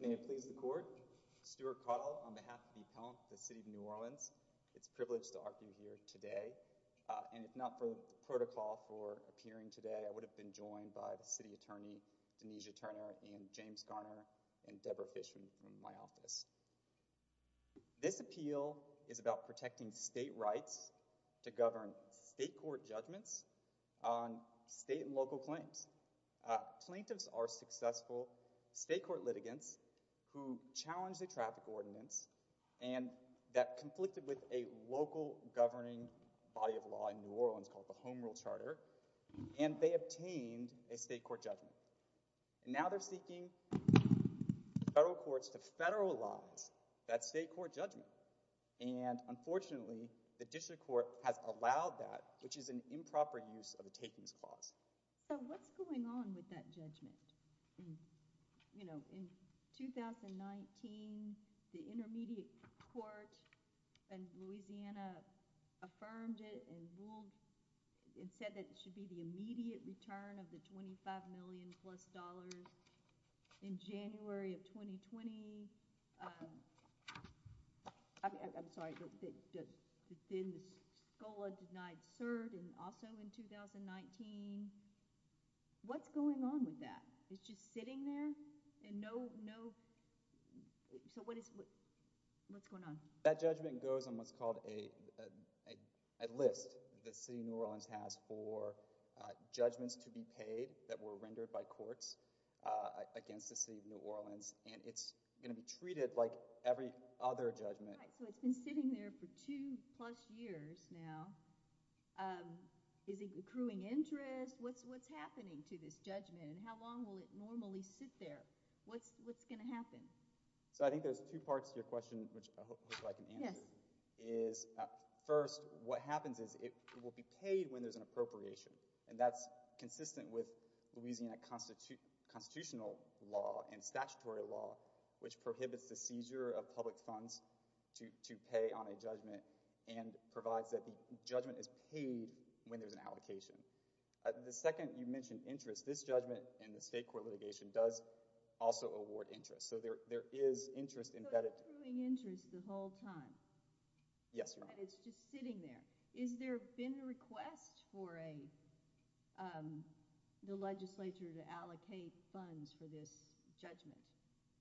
May it please the court, Stuart Cuddle on behalf of the City of New Orleans. It's a privilege to argue here today, and if not for the protocol for appearing today I would have been joined by the City Attorney, Denise Turner and James Garner and Debra Fishman from my office. This appeal is about protecting state rights to govern state court judgments on state and local claims. Plaintiffs are successful state court litigants who challenged the traffic ordinance and that conflicted with a local governing body of law in New Orleans called the Home Rule Charter and they obtained a state court judgment. Now they're seeking federal courts to federalize that state court judgment and unfortunately the district court has allowed that, which is an improper use of a takings clause. So what's going on with that judgment? You know, in 2019 the intermediate court in Louisiana affirmed it and said that it should be the immediate return of the $25 million plus dollars in January of 2020, um, I'm sorry, but then the SCOLA denied cert and also in 2019, what's going on with that? It's just sitting there and no, no, so what is, what's going on? That judgment goes on what's called a list that the city of New Orleans has for judgments to be paid that were rendered by courts against the city of New Orleans and it's going to be treated like every other judgment. Right, so it's been sitting there for two plus years now, um, is it accruing interest? What's happening to this judgment and how long will it normally sit there? What's going to happen? So I think there's two parts to your question, which I hope I can answer, is first what happens is it will be paid when there's an appropriation and that's consistent with Louisiana constitutional law and statutory law, which prohibits the seizure of public funds to pay on a judgment and provides that the judgment is paid when there's an allocation. The second, you mentioned interest, this judgment in the state court litigation does also award interest, so there is interest embedded. So it's accruing interest the whole time? Yes Your Honor. And it's just sitting there. Is there been a request for a, um, the legislature to allocate funds for this judgment?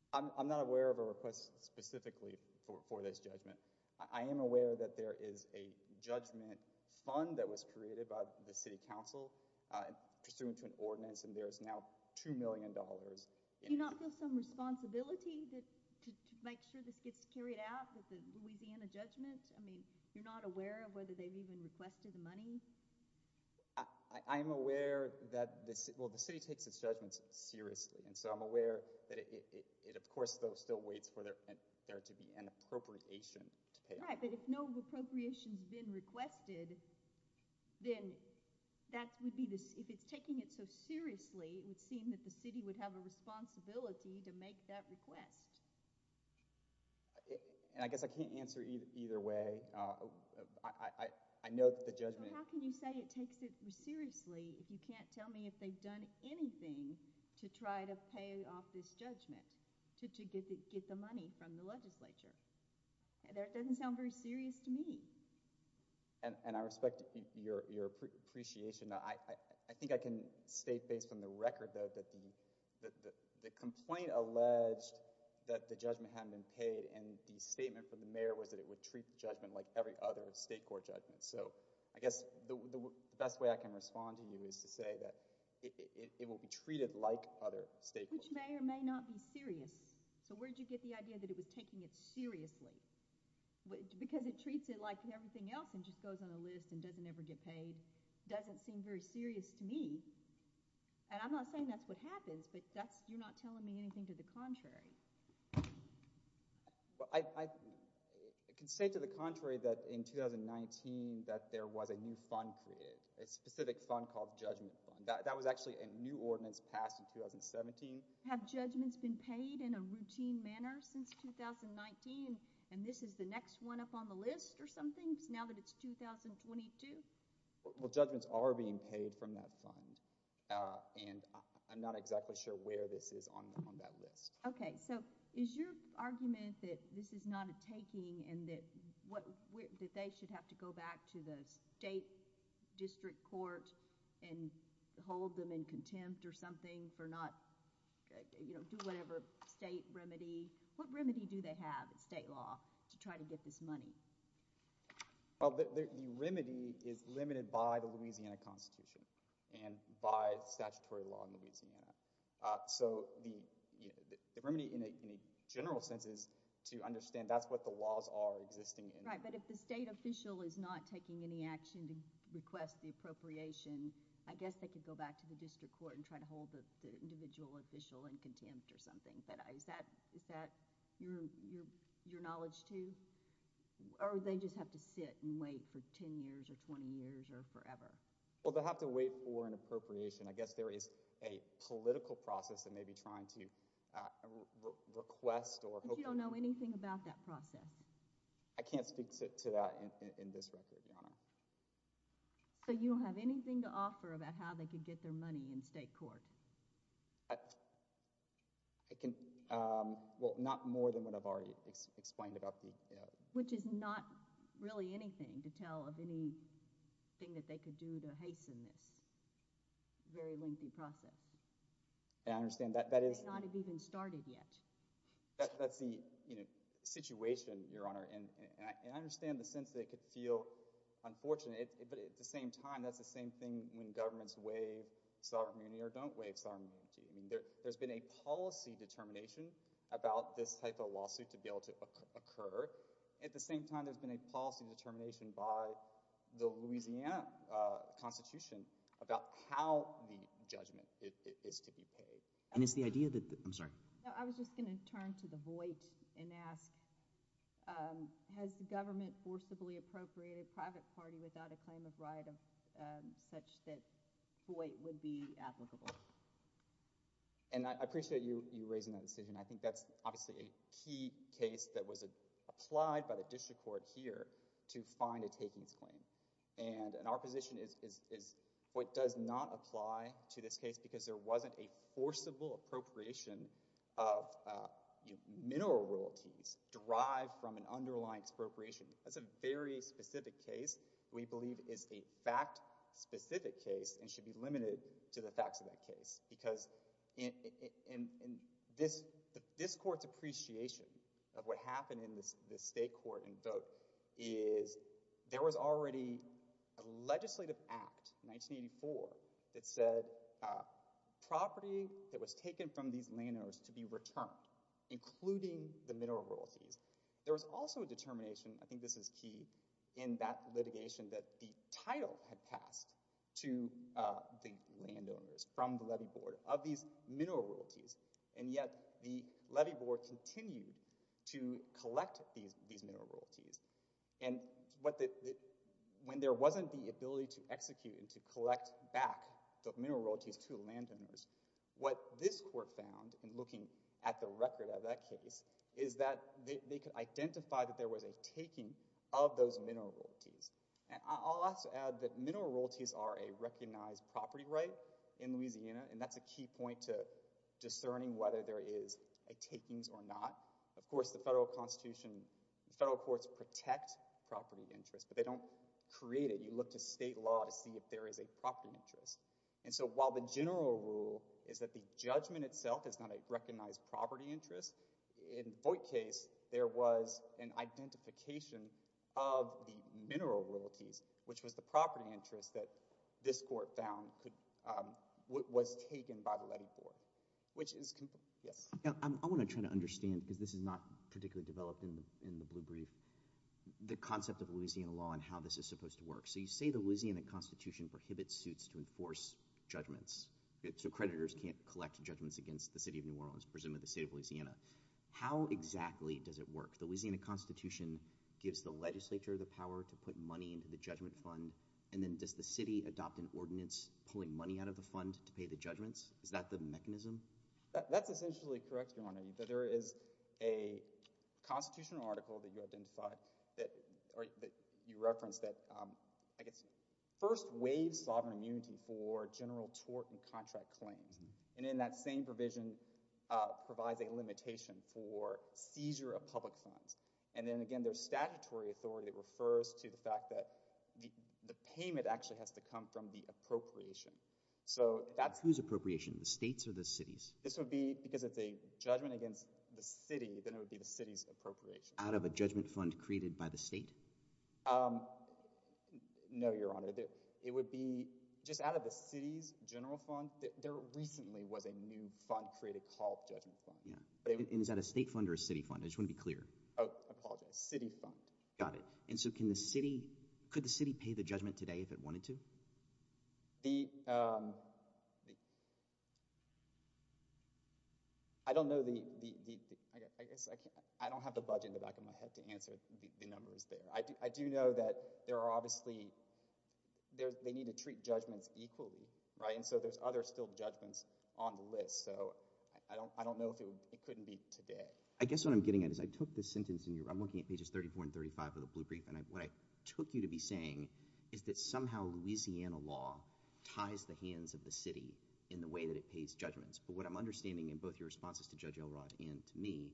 I'm not aware of a request specifically for this judgment. I am aware that there is a judgment fund that was created by the city council pursuant to an ordinance and there is now two million dollars in it. Do you not feel some responsibility to make sure this gets carried out with the Louisiana judgment? I mean, you're not aware of whether they've even requested the money? I am aware that the city, well the city takes its judgments seriously, and so I'm aware that it of course still waits for there to be an appropriation to pay. Right, but if no appropriation's been requested, then that would be, if it's taking it so seriously, it would seem that the city would have a responsibility to make that request. I guess I can't answer either way. I know that the judgment... So how can you say it takes it seriously if you can't tell me if they've done anything to try to pay off this judgment, to get the money from the legislature? That doesn't sound very serious to me. And I respect your appreciation, I think I can state based on the record that the complaint alleged that the judgment hadn't been paid and the statement from the mayor was that it would treat the judgment like every other state court judgment. So I guess the best way I can respond to you is to say that it will be treated like other state courts. Which may or may not be serious. So where did you get the idea that it was taking it seriously? Because it treats it like everything else and just goes on a list and doesn't ever get paid. Doesn't seem very serious to me, and I'm not saying that's what happens, but that's, you're not telling me anything to the contrary. I can say to the contrary that in 2019 that there was a new fund created, a specific fund called the Judgment Fund. That was actually a new ordinance passed in 2017. Have judgments been paid in a routine manner since 2019, and this is the next one up on the list or something now that it's 2022? Well, judgments are being paid from that fund, and I'm not exactly sure where this is on that list. Okay, so is your argument that this is not a taking and that they should have to go back to the state district court and hold them in contempt or something for not, you know, do whatever state remedy, what remedy do they have in state law to try to get this money? Well, the remedy is limited by the Louisiana Constitution and by statutory law in Louisiana. So the remedy in a general sense is to understand that's what the laws are existing in. That's right, but if the state official is not taking any action to request the appropriation, I guess they could go back to the district court and try to hold the individual official in contempt or something, but is that your knowledge, too, or do they just have to sit and wait for 10 years or 20 years or forever? Well, they have to wait for an appropriation. I guess there is a political process that may be trying to request or hopefully— But you don't know anything about that process? I can't speak to that in this record, Your Honor. So you don't have anything to offer about how they could get their money in state court? I can—well, not more than what I've already explained about the— Which is not really anything to tell of anything that they could do to hasten this very lengthy process. I understand that— They may not have even started yet. That's the situation, Your Honor, and I understand the sense that it could feel unfortunate, but at the same time, that's the same thing when governments waive sovereignty or don't waive sovereignty. There's been a policy determination about this type of lawsuit to be able to occur. At the same time, there's been a policy determination by the Louisiana Constitution about how the judgment is to be paid. And it's the idea that—I'm sorry. I was just going to turn to the Voight and ask, has the government forcibly appropriated a private party without a claim of right such that Voight would be applicable? And I appreciate you raising that decision. I think that's obviously a key case that was applied by the district court here to find a takings claim. And our position is Voight does not apply to this case because there wasn't a forcible appropriation of mineral royalties derived from an underlying expropriation. That's a very specific case we believe is a fact-specific case and should be limited to the facts of that case. Because in this court's appreciation of what happened in the state court in Voight there was already a legislative act, 1984, that said property that was taken from these landowners to be returned, including the mineral royalties. There was also a determination—I think this is key—in that litigation that the title had passed to the landowners from the levy board of these mineral royalties. And yet the levy board continued to collect these mineral royalties. And when there wasn't the ability to execute and to collect back the mineral royalties to the landowners, what this court found in looking at the record of that case is that they could identify that there was a taking of those mineral royalties. And I'll also add that mineral royalties are a recognized property right in Louisiana and that's a key point to discerning whether there is a takings or not. Of course, the federal courts protect property interests, but they don't create it. You look to state law to see if there is a property interest. And so while the general rule is that the judgment itself is not a recognized property interest, in Voight's case there was an identification of the mineral royalties, which was the property interest that this court found was taken by the levy board. I want to try to understand, because this is not particularly developed in the blue brief, the concept of Louisiana law and how this is supposed to work. So you say the Louisiana Constitution prohibits suits to enforce judgments, so creditors can't collect judgments against the city of New Orleans, presumably the state of Louisiana. How exactly does it work? The Louisiana Constitution gives the legislature the power to put money into the judgment fund, and then does the city adopt an ordinance pulling money out of the fund to pay the judgments? Is that the mechanism? That's essentially correct, Your Honor. There is a constitutional article that you referenced that, I guess, first waives sovereign immunity for general tort and contract claims, and then that same provision provides a limitation for seizure of public funds. And then, again, there's statutory authority that refers to the fact that the payment actually has to come from the appropriation. Whose appropriation, the state's or the city's? Because if it's a judgment against the city, then it would be the city's appropriation. Out of a judgment fund created by the state? No, Your Honor. It would be just out of the city's general fund. There recently was a new fund created called judgment fund. And is that a state fund or a city fund? I just want to be clear. Oh, I apologize. City fund. Got it. And so can the city – could the city pay the judgment today if it wanted to? The – I don't know the – I guess I can't – I don't have the budget in the back of my head to answer the numbers there. I do know that there are obviously – they need to treat judgments equally, right? And so there's other still judgments on the list. So I don't know if it couldn't be today. I guess what I'm getting at is I took the sentence in your – I'm looking at pages 34 and 35 of the blue brief, and what I took you to be saying is that somehow Louisiana law ties the hands of the city in the way that it pays judgments. But what I'm understanding in both your responses to Judge Elrod and to me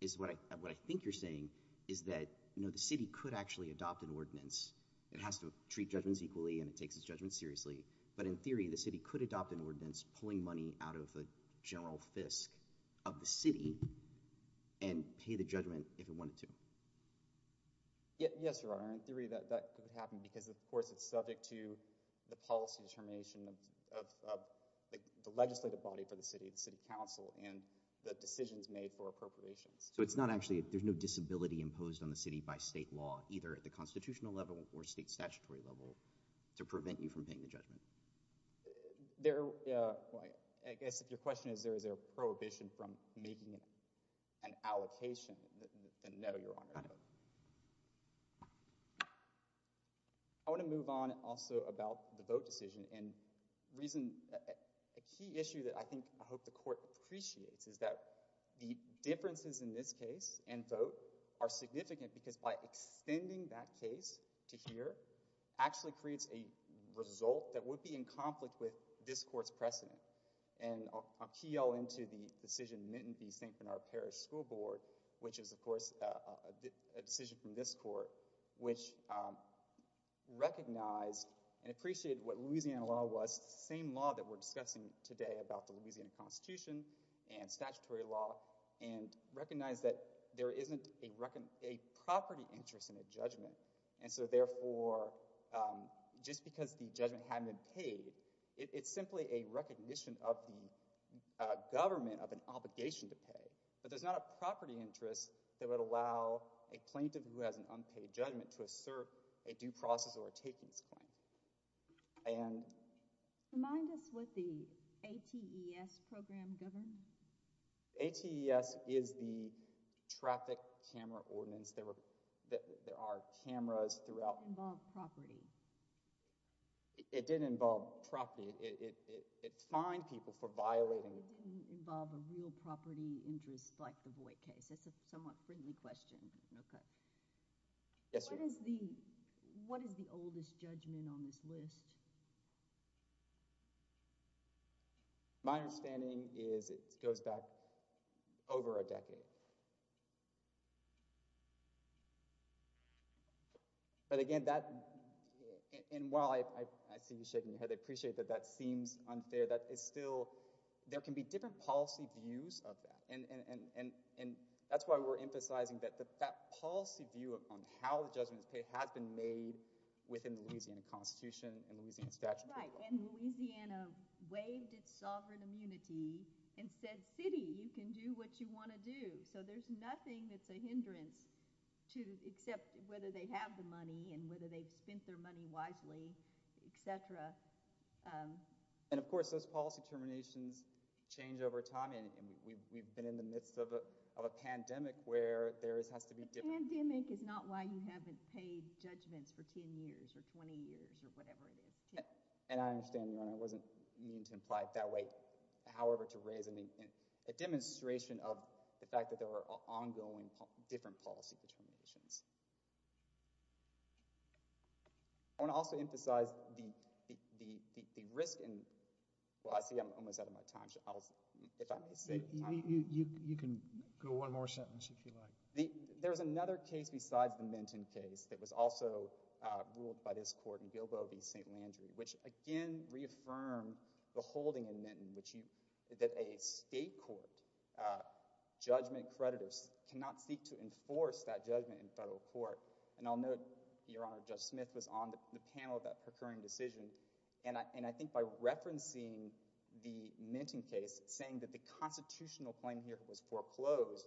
is what I think you're saying is that the city could actually adopt an ordinance. It has to treat judgments equally, and it takes its judgments seriously. But in theory, the city could adopt an ordinance pulling money out of the general fisc of the city and pay the judgment if it wanted to. Yes, Your Honor. In theory, that could happen because, of course, it's subject to the policy determination of the legislative body for the city, the city council, and the decisions made for appropriations. So it's not actually – there's no disability imposed on the city by state law, either at the constitutional level or state statutory level, to prevent you from paying the judgment? I guess if your question is, is there a prohibition from making an allocation, then no, Your Honor. Got it. I want to move on also about the vote decision. A key issue that I think I hope the court appreciates is that the differences in this case and vote are significant because by extending that case to here actually creates a result that would be in conflict with this court's precedent. And I'll key y'all into the decision of the St. Bernard Parish School Board, which is, of course, a decision from this court, which recognized and appreciated what Louisiana law was, the same law that we're discussing today about the Louisiana Constitution and statutory law, and recognized that there isn't a property interest in a judgment. And so, therefore, just because the judgment hadn't been paid, it's simply a recognition of the government of an obligation to pay. But there's not a property interest that would allow a plaintiff who has an unpaid judgment to assert a due process or a takings claim. And— Remind us what the ATES program governed? ATES is the Traffic Camera Ordinance. There are cameras throughout— It involved property. It did involve property. It fined people for violating— It didn't involve a real property interest like the Voight case. That's a somewhat friendly question. Yes, ma'am. What is the oldest judgment on this list? My understanding is it goes back over a decade. But again, that—and while I see you shaking your head, I appreciate that that seems unfair. That is still—there can be different policy views of that. And that's why we're emphasizing that that policy view on how the judgment is paid has been made within the Louisiana Constitution and Louisiana statutory law. Right. And Louisiana waived its sovereign immunity and said, City, you can do what you want to do. So there's nothing that's a hindrance to—except whether they have the money and whether they've spent their money wisely, et cetera. And of course, those policy determinations change over time. And we've been in the midst of a pandemic where there has to be— A pandemic is not why you haven't paid judgments for 10 years or 20 years or whatever it is. And I understand, Your Honor. I wasn't meaning to imply it that way. However, to raise a demonstration of the fact that there are ongoing different policy determinations. I want to also emphasize the risk in—well, I see I'm almost out of my time. You can go one more sentence if you like. There is another case besides the Minton case that was also ruled by this court in Gilboa v. St. Landry, which again reaffirmed the holding in Minton that a state court judgment creditors cannot seek to enforce that judgment in federal court. And I'll note, Your Honor, Judge Smith was on the panel about her current decision. And I think by referencing the Minton case, saying that the constitutional claim here was foreclosed,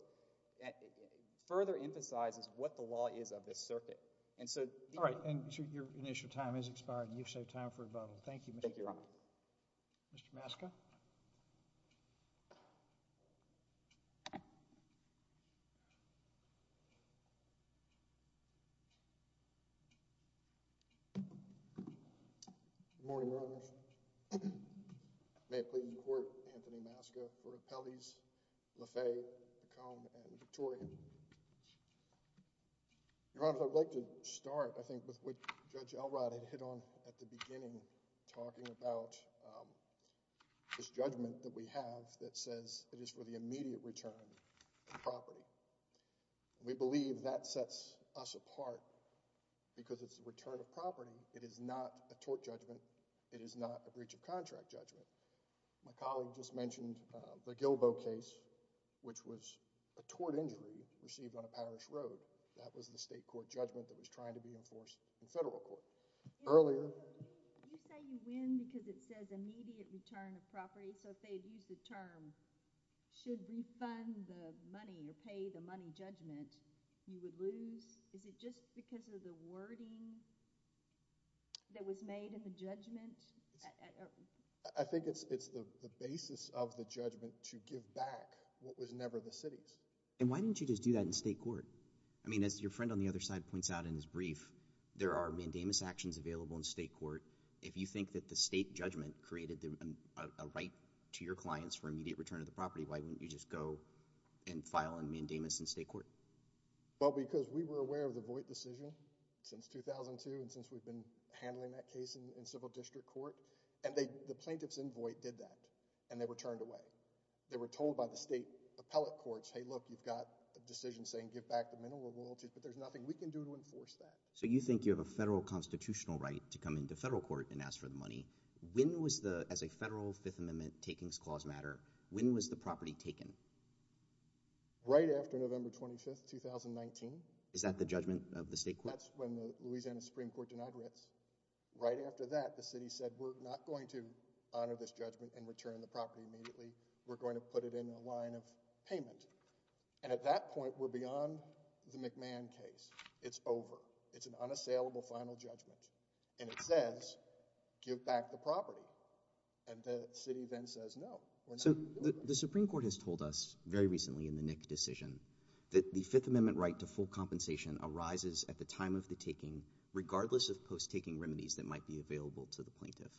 further emphasizes what the law is of this circuit. And so— All right. And your initial time has expired. You've saved time for rebuttal. Thank you, Mr. Trump. Thank you, Your Honor. Mr. Maska? Good morning, Your Honors. May it please the Court, Anthony Maska, Court of Appellees Lafay, McComb, and Victoria. Your Honors, I'd like to start, I think, with what Judge Elrod had hit on at the beginning, talking about this judgment that we have that says it is for the immediate return to property. We believe that sets us apart because it's the return of property. It is not a tort judgment. It is not a breach of contract judgment. My colleague just mentioned the Gilbo case, which was a tort injury received on a parish road. That was the state court judgment that was trying to be enforced in federal court. Earlier— Did you say you win because it says immediate return of property? So if they had used the term, should refund the money or pay the money judgment, you would lose? Is it just because of the wording that was made in the judgment? I think it's the basis of the judgment to give back what was never the city's. And why didn't you just do that in state court? I mean, as your friend on the other side points out in his brief, there are mandamus actions available in state court. If you think that the state judgment created a right to your clients for immediate return of the property, why wouldn't you just go and file a mandamus in state court? Well, because we were aware of the Voight decision since 2002 and since we've been handling that case in civil district court. And the plaintiffs in Voight did that, and they were turned away. They were told by the state appellate courts, hey, look, you've got a decision saying give back the minimum royalties, but there's nothing we can do to enforce that. So you think you have a federal constitutional right to come into federal court and ask for the money. When was the, as a federal Fifth Amendment takings clause matter, when was the property taken? Right after November 25th, 2019. Is that the judgment of the state court? That's when the Louisiana Supreme Court denied rents. Right after that, the city said we're not going to honor this judgment and return the property immediately. We're going to put it in a line of payment. And at that point, we're beyond the McMahon case. It's over. It's an unassailable final judgment. And it says give back the property. And the city then says no, we're not doing that. So the Supreme Court has told us very recently in the Nick decision that the Fifth Amendment right to full compensation arises at the time of the taking regardless of post-taking remedies that might be available to the plaintiff.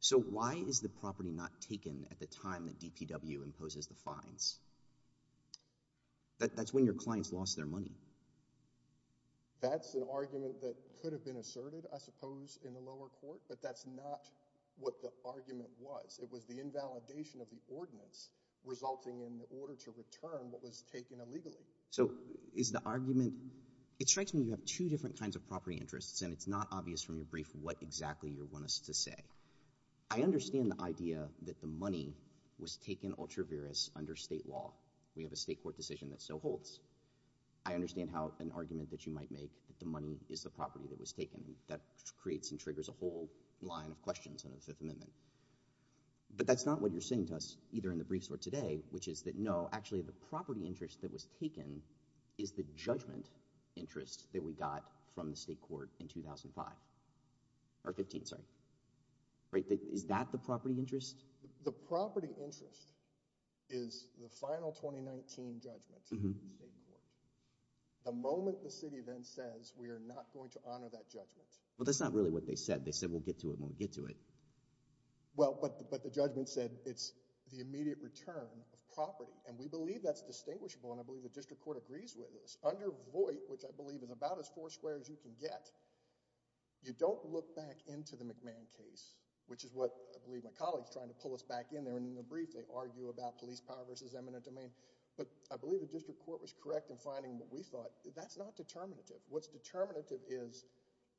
So why is the property not taken at the time that DPW imposes the fines? That's when your clients lost their money. That's an argument that could have been asserted, I suppose, in the lower court, but that's not what the argument was. It was the invalidation of the ordinance resulting in the order to return what was taken illegally. So is the argument, it strikes me you have two different kinds of property interests, and it's not obvious from your brief what exactly you want us to say. I understand the idea that the money was taken ultra-virus under state law. We have a state court decision that so holds. I understand how an argument that you might make that the money is the property that was taken. That creates and triggers a whole line of questions under the Fifth Amendment. But that's not what you're saying to us either in the briefs or today, which is that no, Is that the property interest? The property interest is the final 2019 judgment in the state court. The moment the city then says we are not going to honor that judgment. Well, that's not really what they said. They said we'll get to it when we get to it. Well, but the judgment said it's the immediate return of property, and we believe that's distinguishable, and I believe the district court agrees with this. Under Voight, which I believe is about as four squares you can get, you don't look back into the McMahon case, which is what I believe my colleague is trying to pull us back in there, and in the brief they argue about police power versus eminent domain. But I believe the district court was correct in finding what we thought. That's not determinative. What's determinative is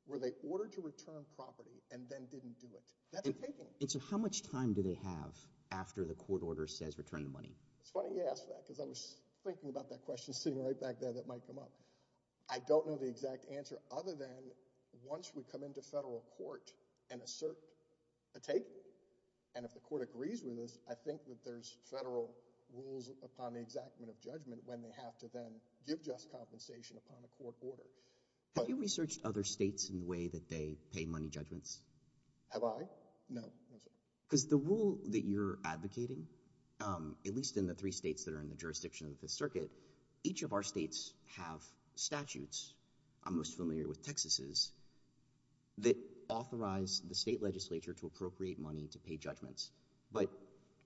were they ordered to return property and then didn't do it? So how much time do they have after the court order says return the money? It's funny you ask that because I was thinking about that question sitting right back there that might come up. I don't know the exact answer other than once we come into federal court and assert a take, and if the court agrees with this, I think that there's federal rules upon the exactment of judgment when they have to then give just compensation upon a court order. Have you researched other states in the way that they pay money judgments? Have I? No. Because the rule that you're advocating, at least in the three states that are in the jurisdiction of the Fifth Circuit, each of our states have statutes, I'm most familiar with Texas's, that authorize the state legislature to appropriate money to pay judgments. But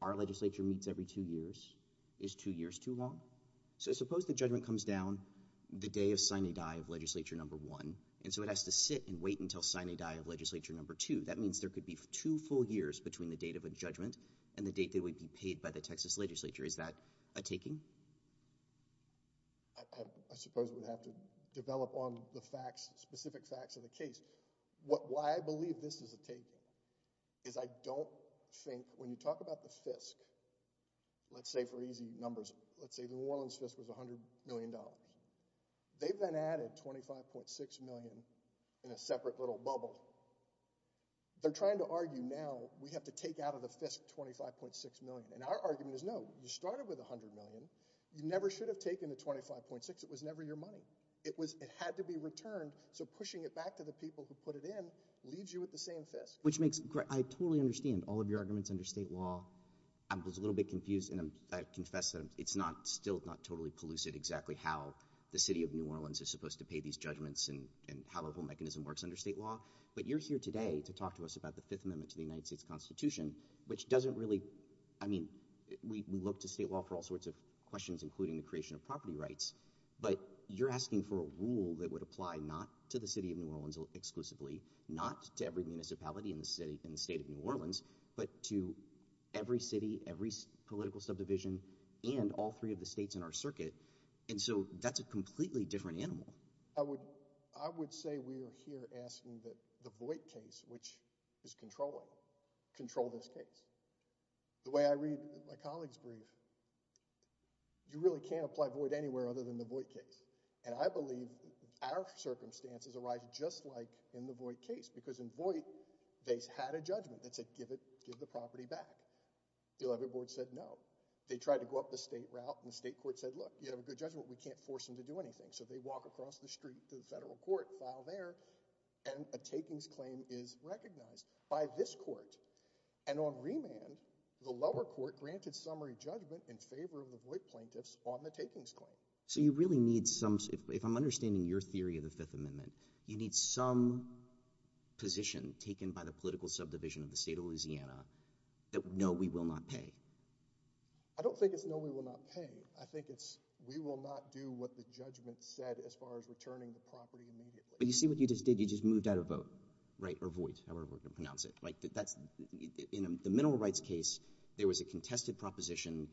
our legislature meets every two years. Is two years too long? So suppose the judgment comes down the day of sine die of legislature number one, and so it has to sit and wait until sine die of legislature number two. That means there could be two full years between the date of a judgment and the date that would be paid by the Texas legislature. Is that a taking? I suppose we'd have to develop on the facts, specific facts of the case. Why I believe this is a taking is I don't think when you talk about the FISC, let's say for easy numbers, let's say New Orleans FISC was $100 million. They've then added $25.6 million in a separate little bubble. They're trying to argue now we have to take out of the FISC $25.6 million, and our argument is no. You started with $100 million. You never should have taken the $25.6. It was never your money. It had to be returned, so pushing it back to the people who put it in leaves you with the same FISC. I totally understand all of your arguments under state law. I was a little bit confused, and I confess that it's still not totally pellucid exactly how the city of New Orleans is supposed to pay these judgments and how the whole mechanism works under state law. But you're here today to talk to us about the Fifth Amendment to the United States Constitution, which doesn't really— I mean, we look to state law for all sorts of questions, including the creation of property rights, but you're asking for a rule that would apply not to the city of New Orleans exclusively, not to every municipality in the state of New Orleans, but to every city, every political subdivision, and all three of the states in our circuit. And so that's a completely different animal. I would say we are here asking that the Voight case, which is controlling, control this case. The way I read my colleague's brief, you really can't apply Voight anywhere other than the Voight case. And I believe our circumstances arise just like in the Voight case, because in Voight, they had a judgment that said give the property back. The Olympic Board said no. They tried to go up the state route, and the state court said, look, you have a good judgment. We can't force them to do anything. So they walk across the street to the federal court, file there, and a takings claim is recognized by this court. And on remand, the lower court granted summary judgment in favor of the Voight plaintiffs on the takings claim. So you really need some, if I'm understanding your theory of the Fifth Amendment, you need some position taken by the political subdivision of the state of Louisiana that no, we will not pay. I don't think it's no, we will not pay. I think it's we will not do what the judgment said as far as returning the property immediately. But you see what you just did? You just moved out of Voight, right, or Voight, however we're going to pronounce it. In the mineral rights case, there was a contested proposition,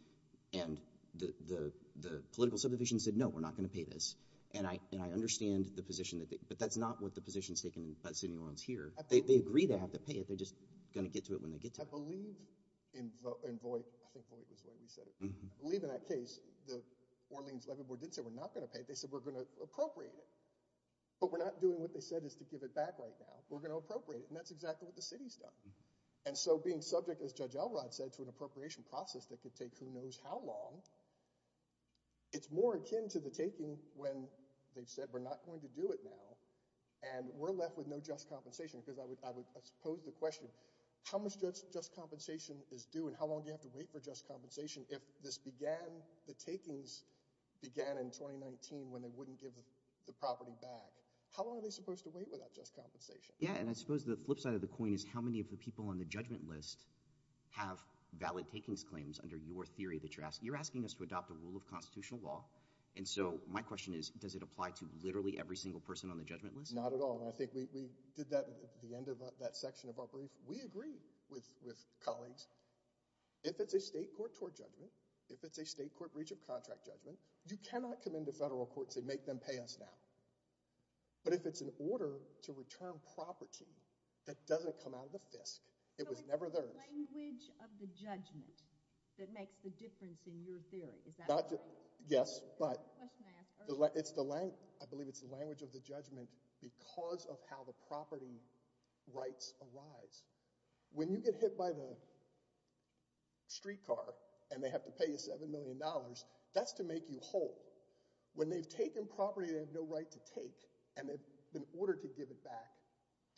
and the political subdivision said no, we're not going to pay this. And I understand the position, but that's not what the position is taken by the city of New Orleans here. They agree they have to pay it. They're just going to get to it when they get to it. I believe in Voight. I think Voight was the way we said it. I believe in that case, the Orleans Levy Board didn't say we're not going to pay it. They said we're going to appropriate it. But we're not doing what they said is to give it back right now. We're going to appropriate it, and that's exactly what the city's done. And so being subject, as Judge Elrod said, to an appropriation process that could take who knows how long, it's more akin to the taking when they've said we're not going to do it now and we're left with no just compensation, because I would pose the question, how much just compensation is due and how long do you have to wait for just compensation if this began, the takings began in 2019 when they wouldn't give the property back? How long are they supposed to wait without just compensation? Yeah, and I suppose the flip side of the coin is how many of the people on the judgment list have valid takings claims under your theory? You're asking us to adopt a rule of constitutional law, and so my question is does it apply to literally every single person on the judgment list? Not at all, and I think we did that at the end of that section of our brief. We agree with colleagues. If it's a state court tort judgment, if it's a state court breach of contract judgment, you cannot come into federal court and say make them pay us now. But if it's an order to return property that doesn't come out of the fisk, it was never theirs. So it's the language of the judgment that makes the difference in your theory. Is that right? Yes, but I believe it's the language of the judgment because of how the property rights arise. When you get hit by the streetcar and they have to pay you $7 million, that's to make you whole. When they've taken property they have no right to take and they've been ordered to give it back,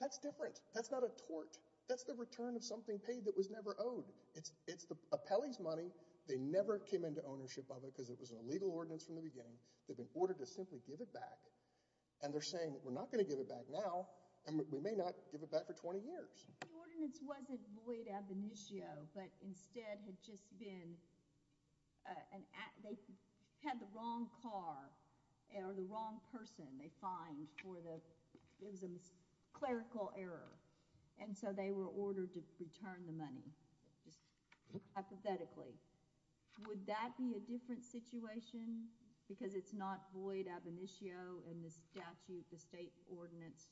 that's different. That's not a tort. That's the return of something paid that was never owed. It's the appellee's money. They never came into ownership of it because it was an illegal ordinance from the beginning. They've been ordered to simply give it back, and they're saying we're not going to give it back now, and we may not give it back for 20 years. The ordinance wasn't void ab initio, but instead had just been an act. They had the wrong car or the wrong person. They fined for the clerical error, and so they were ordered to return the money, just hypothetically. Would that be a different situation because it's not void ab initio and the statute, the state ordinance,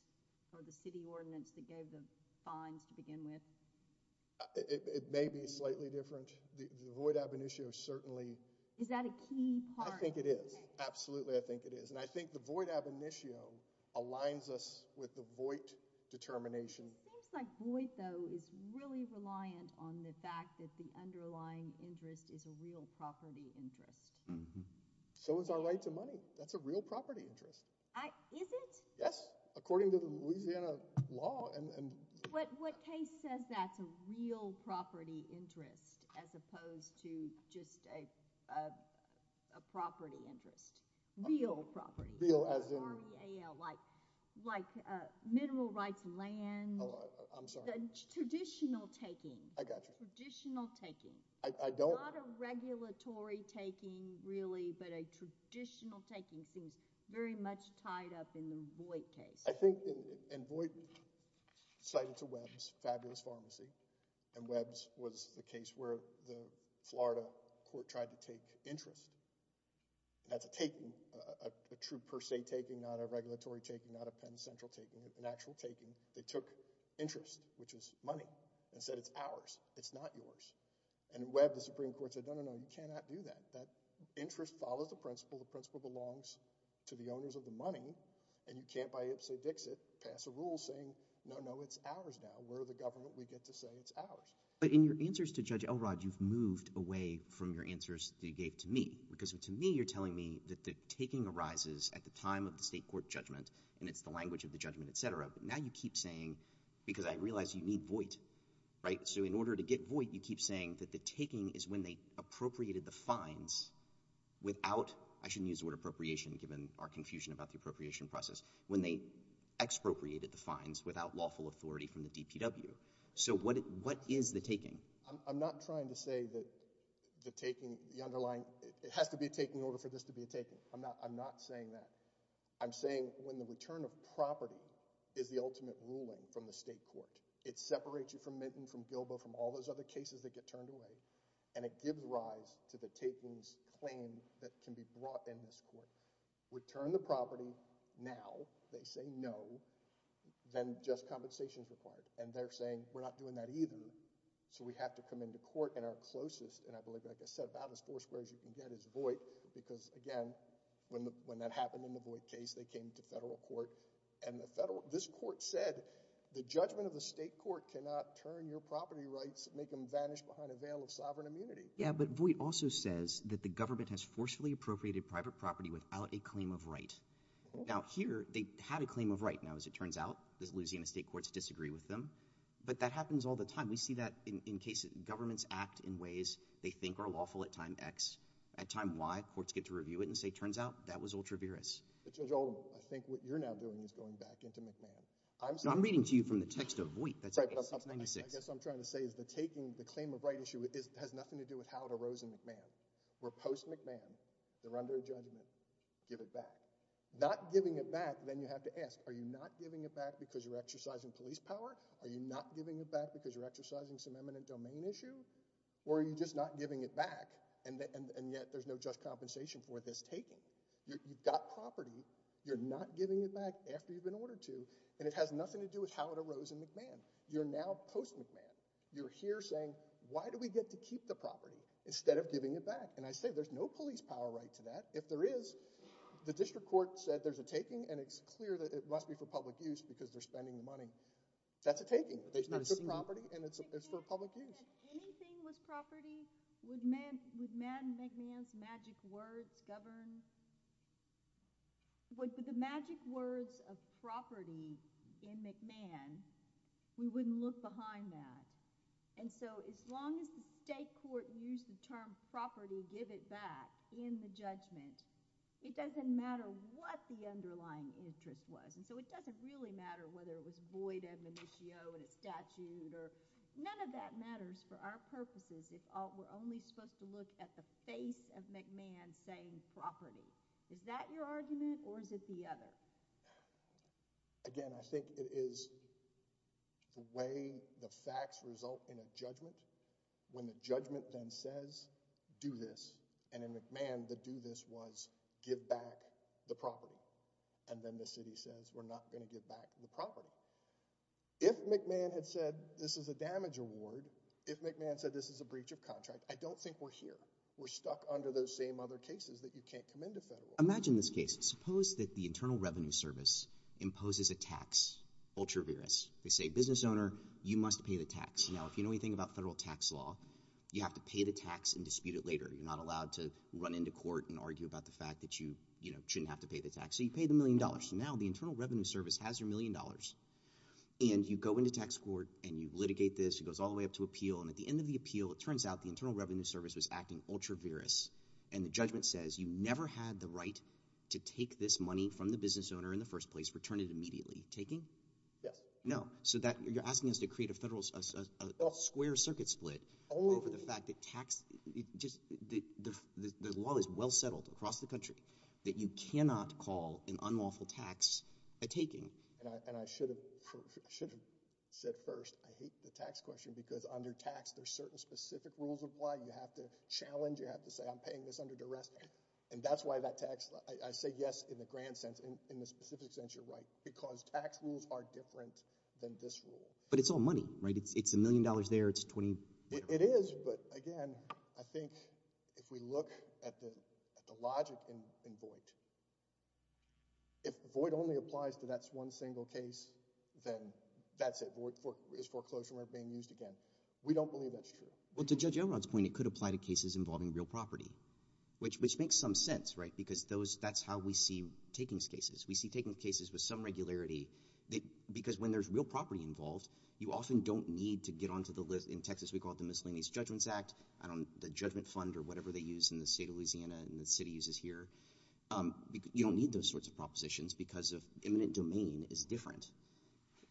or the city ordinance that gave the fines to begin with? It may be slightly different. The void ab initio certainly... Is that a key part? I think it is. Absolutely, I think it is. I think the void ab initio aligns us with the void determination. It seems like void, though, is really reliant on the fact that the underlying interest is a real property interest. So is our right to money. That's a real property interest. Is it? Yes, according to the Louisiana law. What case says that's a real property interest as opposed to just a property interest? Real property. Real as in... R-E-A-L, like mineral rights land. I'm sorry. Traditional taking. I got you. Traditional taking. I don't... There's a lot of regulatory taking, really, but a traditional taking seems very much tied up in the void case. I think... And void cited to Webbs, fabulous pharmacy, and Webbs was the case where the Florida court tried to take interest. That's a taking, a true per se taking, not a regulatory taking, not a Penn Central taking. An actual taking. They took interest, which is money, and said it's ours, it's not yours. And Webbs, the Supreme Court, said, no, no, no, you cannot do that. That interest follows the principle. The principle belongs to the owners of the money, and you can't, by ips and dicks it, pass a rule saying, no, no, it's ours now. We're the government. We get to say it's ours. But in your answers to Judge Elrod, you've moved away from your answers that you gave to me because, to me, you're telling me that the taking arises at the time of the state court judgment, and it's the language of the judgment, et cetera, but now you keep saying, because I realize you need void, right? You keep saying that the taking is when they appropriated the fines without, I shouldn't use the word appropriation given our confusion about the appropriation process, when they expropriated the fines without lawful authority from the DPW. So what is the taking? I'm not trying to say that the taking, the underlying, it has to be a taking in order for this to be a taking. I'm not saying that. I'm saying when the return of property is the ultimate ruling from the state court, it separates you from Minton, from Gilbo, from all those other cases that get turned away, and it gives rise to the taking's claim that can be brought in this court. Return the property now, they say no, then just compensation's required, and they're saying, we're not doing that either, so we have to come into court, and our closest, and I believe, like I said, about as four squares you can get is void because, again, when that happened in the void case, they came to federal court, and this court said, the judgment of the state court cannot turn your property rights, make them vanish behind a veil of sovereign immunity. Yeah, but void also says that the government has forcefully appropriated private property without a claim of right. Now, here, they had a claim of right. Now, as it turns out, the Louisiana state courts disagree with them, but that happens all the time. We see that in cases, governments act in ways they think are lawful at time X. At time Y, courts get to review it and say, turns out, that was ultra-virus. But Judge Oldham, I think what you're now doing is going back into McMahon. Now, I'm reading to you from the text of void. I guess what I'm trying to say is the claim of right issue has nothing to do with how it arose in McMahon. We're post-McMahon. They're under a judgment. Give it back. Not giving it back, then you have to ask, are you not giving it back because you're exercising police power? Are you not giving it back because you're exercising some eminent domain issue? Or are you just not giving it back, and yet there's no just compensation for this taking? You've got property. You're not giving it back after you've been ordered to. And it has nothing to do with how it arose in McMahon. You're now post-McMahon. You're here saying, why do we get to keep the property instead of giving it back? And I say there's no police power right to that. If there is, the district court said there's a taking, and it's clear that it must be for public use because they're spending the money. That's a taking. That's a property, and it's for public use. If anything was property, would McMahon's magic words govern... With the magic words of property in McMahon, we wouldn't look behind that. And so as long as the state court used the term property, give it back, in the judgment, it doesn't matter what the underlying interest was. And so it doesn't really matter whether it was void admonitio in a statute. None of that matters for our purposes if we're only supposed to look at the face of McMahon saying property. Is that your argument, or is it the other? Again, I think it is the way the facts result in a judgment. When the judgment then says, do this, and in McMahon, the do this was give back the property. And then the city says, we're not going to give back the property. If McMahon had said this is a damage award, if McMahon said this is a breach of contract, I don't think we're here. We're stuck under those same other cases that you can't come into federal. Imagine this case. Suppose that the Internal Revenue Service imposes a tax, ultra viris. They say, business owner, you must pay the tax. Now, if you know anything about federal tax law, you have to pay the tax and dispute it later. You're not allowed to run into court and argue about the fact that you, you know, shouldn't have to pay the tax. So you pay the million dollars. Now the Internal Revenue Service has your million dollars. And you go into tax court, and you litigate this. It goes all the way up to appeal. And at the end of the appeal, it turns out the Internal Revenue Service was acting ultra viris. And the judgment says you never had the right to take this money from the business owner in the first place, return it immediately. Taking? Yes. No. So that, you're asking us to create a federal, a square circuit split over the fact that tax, just, the law is well settled across the country that you cannot call an unlawful tax a taking. And I should have, I should have said first, I hate the tax question because under tax, there's certain specific rules of why. You have to challenge. You have to say, I'm paying this under duress. And that's why that tax, I say yes in the grand sense. In the specific sense, you're right. Because tax rules are different than this rule. But it's all money, right? It's a million dollars there. It's 20. It is, but again, I think if we look at the logic in Voight, if Voight only applies to that one single case, then that's it. Voight is foreclosed from ever being used again. We don't believe that's true. Well, to Judge Elrod's point, it could apply to cases involving real property, which makes some sense, right? Because those, that's how we see takings cases. We see takings cases with some regularity because when there's real property involved, you often don't need to get onto the list. In Texas, we call it the Miscellaneous Judgements Act. I don't, the judgment fund or whatever they use in the state of Louisiana and the city uses here. You don't need those sorts of propositions because of eminent domain is different.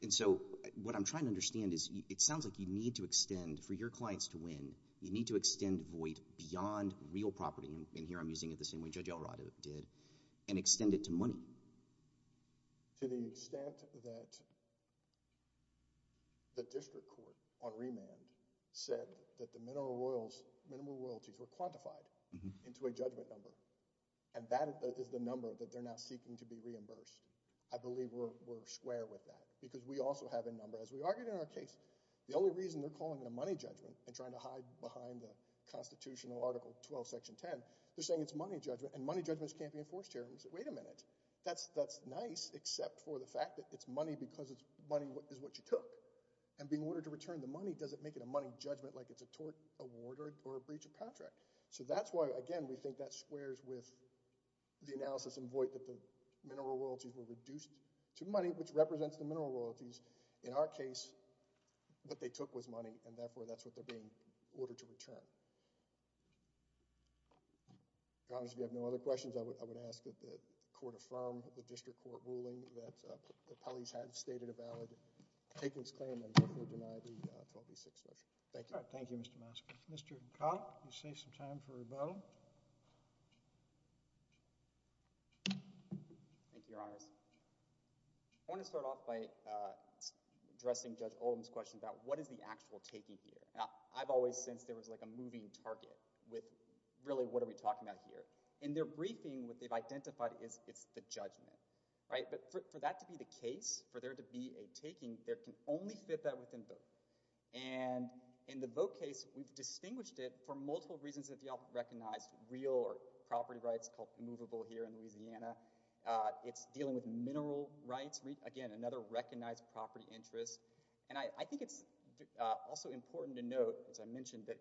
And so what I'm trying to understand is it sounds like you need to extend, for your clients to win, you need to extend Voight beyond real property, and here I'm using it the same way Judge Elrod did, and extend it to money. To the extent that the district court on remand said that the minimal royalties were quantified into a judgment number, and that is the number that they're now seeking to be reimbursed, I believe we're square with that because we also have a number, as we argued in our case. The only reason they're calling it a money judgment and trying to hide behind the constitutional article 12, section 10, they're saying it's money judgment, and money judgment can't be enforced here. And we say, wait a minute, that's nice, except for the fact that it's money because money is what you took. And being ordered to return the money doesn't make it a money judgment like it's a tort award or a breach of contract. So that's why, again, we think that squares with the analysis in Voight that the minimal royalties were reduced to money, which represents the minimal royalties. In our case, what they took was money, and therefore that's what they're being ordered to return. Your Honor, if you have no other questions, I would ask that the court affirm the district court ruling that the police have stated a valid takings claim and therefore deny the 12A6 measure. Thank you. All right, thank you, Mr. Moskowitz. Mr. Conk, you save some time for rebuttal. Thank you, Your Honors. I want to start off by addressing Judge Oldham's question about what is the actual taking here. Now, I've always sensed there was like a moving target with really what are we talking about here. In their briefing, what they've identified is it's the judgment, right? But for that to be the case, for there to be a taking, there can only fit that within Voight. And in the Voight case, we've distinguished it for multiple reasons that you all recognize, real or property rights called immovable here in Louisiana. It's dealing with mineral rights, again, another recognized property interest. And I think it's also important to note, as I mentioned, that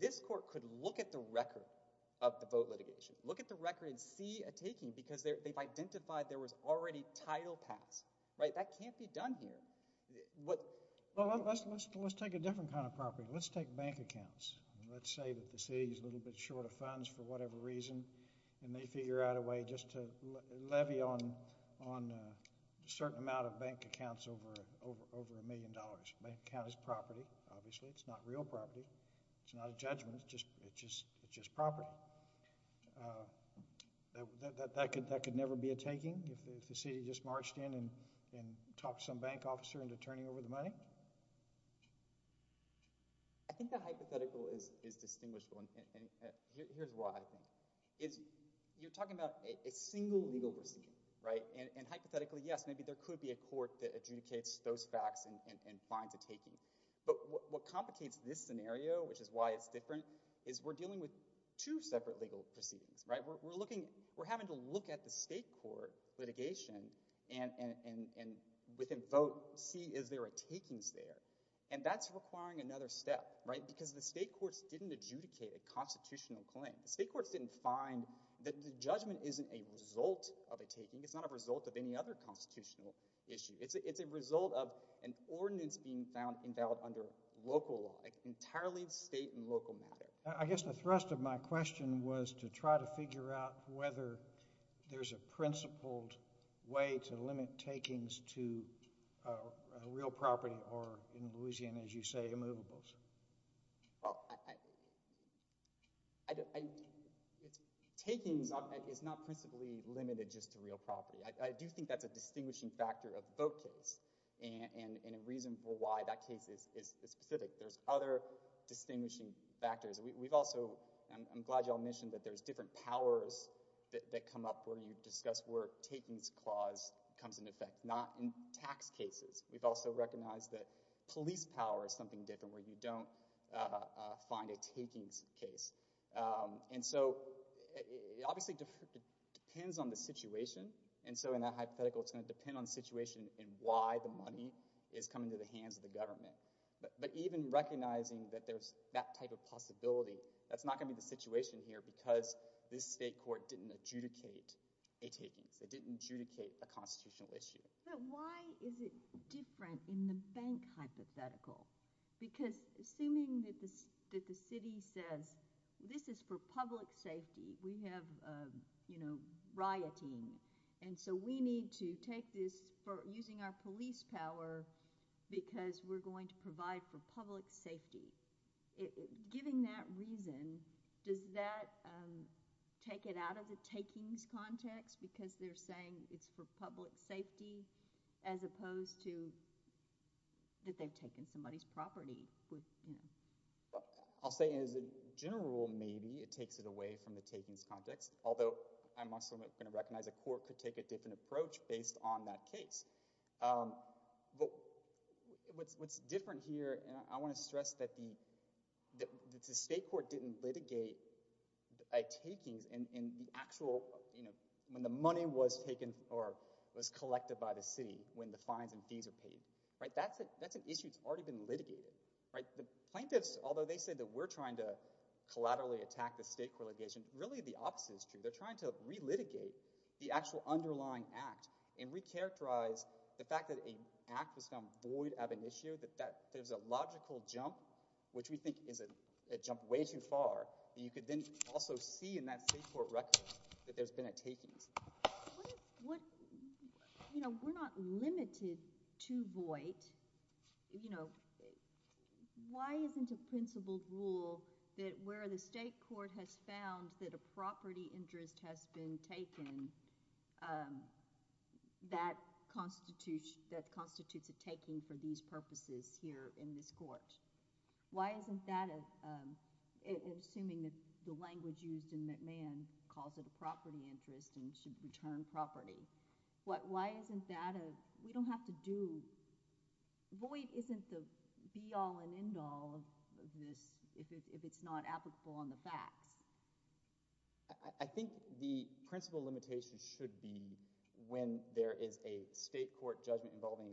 this court could look at the record of the Voight litigation, look at the record and see a taking because they've identified there was already title pass, right? That can't be done here. Well, let's take a different kind of property. Let's take bank accounts. Let's say that the city is a little bit short of funds for whatever reason and they figure out a way just to levy on a certain amount of bank accounts over a million dollars. Bank account is property, obviously. It's not real property. It's not a judgment. It's just property. That could never be a taking if the city just marched in and talked some bank officer into turning over the money. I think the hypothetical is distinguishable, and here's why. You're talking about a single legal proceeding, right? And hypothetically, yes, maybe there could be a court that adjudicates those facts and finds a taking. But what complicates this scenario, which is why it's different, is we're dealing with two separate legal proceedings, right? We're having to look at the state court litigation and within vote see if there are takings there, and that's requiring another step, right? Because the state courts didn't adjudicate a constitutional claim. The state courts didn't find that the judgment isn't a result of a taking. It's not a result of any other constitutional issue. It's a result of an ordinance being found invalid under local law, entirely state and local matter. I guess the thrust of my question was to try to figure out whether there's a principled way to limit takings to real property or, in Louisiana, as you say, immovables. Takings is not principally limited just to real property. I do think that's a distinguishing factor of the vote case and a reason for why that case is specific. There's other distinguishing factors. I'm glad you all mentioned that there's different powers that come up where you discuss where takings clause comes into effect, not in tax cases. We've also recognized that police power is something different where you don't find a takings case. And so it obviously depends on the situation, and so in that hypothetical it's going to depend on the situation and why the money is coming to the hands of the government. But even recognizing that there's that type of possibility, that's not going to be the situation here because this state court didn't adjudicate a takings. They didn't adjudicate a constitutional issue. But why is it different in the bank hypothetical? Because assuming that the city says this is for public safety, we have, you know, rioting, and so we need to take this using our police power because we're going to provide for public safety. Giving that reason, does that take it out of the takings context because they're saying it's for public safety as opposed to that they've taken somebody's property? I'll say as a general rule, maybe it takes it away from the takings context, although I'm also going to recognize a court could take a different approach based on that case. But what's different here, and I want to stress that the state court didn't litigate a takings in the actual, you know, when the money was taken or was collected by the city when the fines and fees are paid. That's an issue that's already been litigated. The plaintiffs, although they said that we're trying to collaterally attack the state court litigation, really the opposite is true. They're trying to re-litigate the actual underlying act and re-characterize the fact that an act was found void of an issue, that there's a logical jump, which we think is a jump way too far, that you could then also see in that state court record that there's been a takings. You know, we're not limited to void. You know, why isn't a principled rule that where the state court has found that a property interest has been taken, that constitutes a taking for these purposes here in this court? Why isn't that a... Assuming that the language used in McMahon calls it a property interest and should return property, why isn't that a... We don't have to do... Void isn't the be-all and end-all of this if it's not applicable on the facts. I think the principle limitation should be when there is a state court judgment involving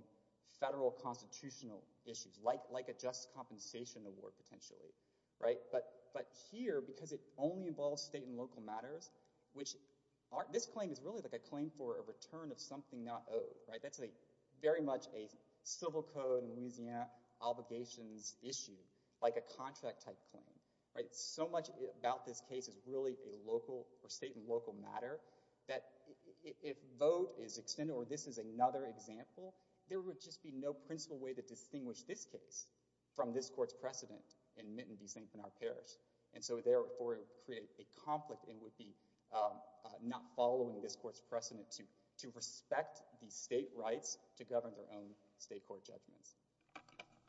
federal constitutional issues, like a just compensation award potentially, right? But here, because it only involves state and local matters, which this claim is really like a claim for a return of something not owed, right? That's very much a civil code in Louisiana obligations issue, like a contract-type claim, right? So much about this case is really a local or state and local matter that if vote is extended or this is another example, there would just be no principle way to distinguish this case from this court's precedent in Mitten v. St. Bernard Parish. And so, therefore, it would create a conflict and would be not following this court's precedent to respect the state rights to govern their own state court judgments.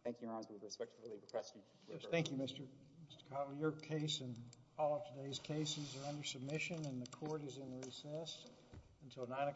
Thank you, Your Honors. We respectfully request you to confer. Thank you, Mr. Connelly. Your case and all of today's cases are under submission and the court is in recess until 9 o'clock tomorrow.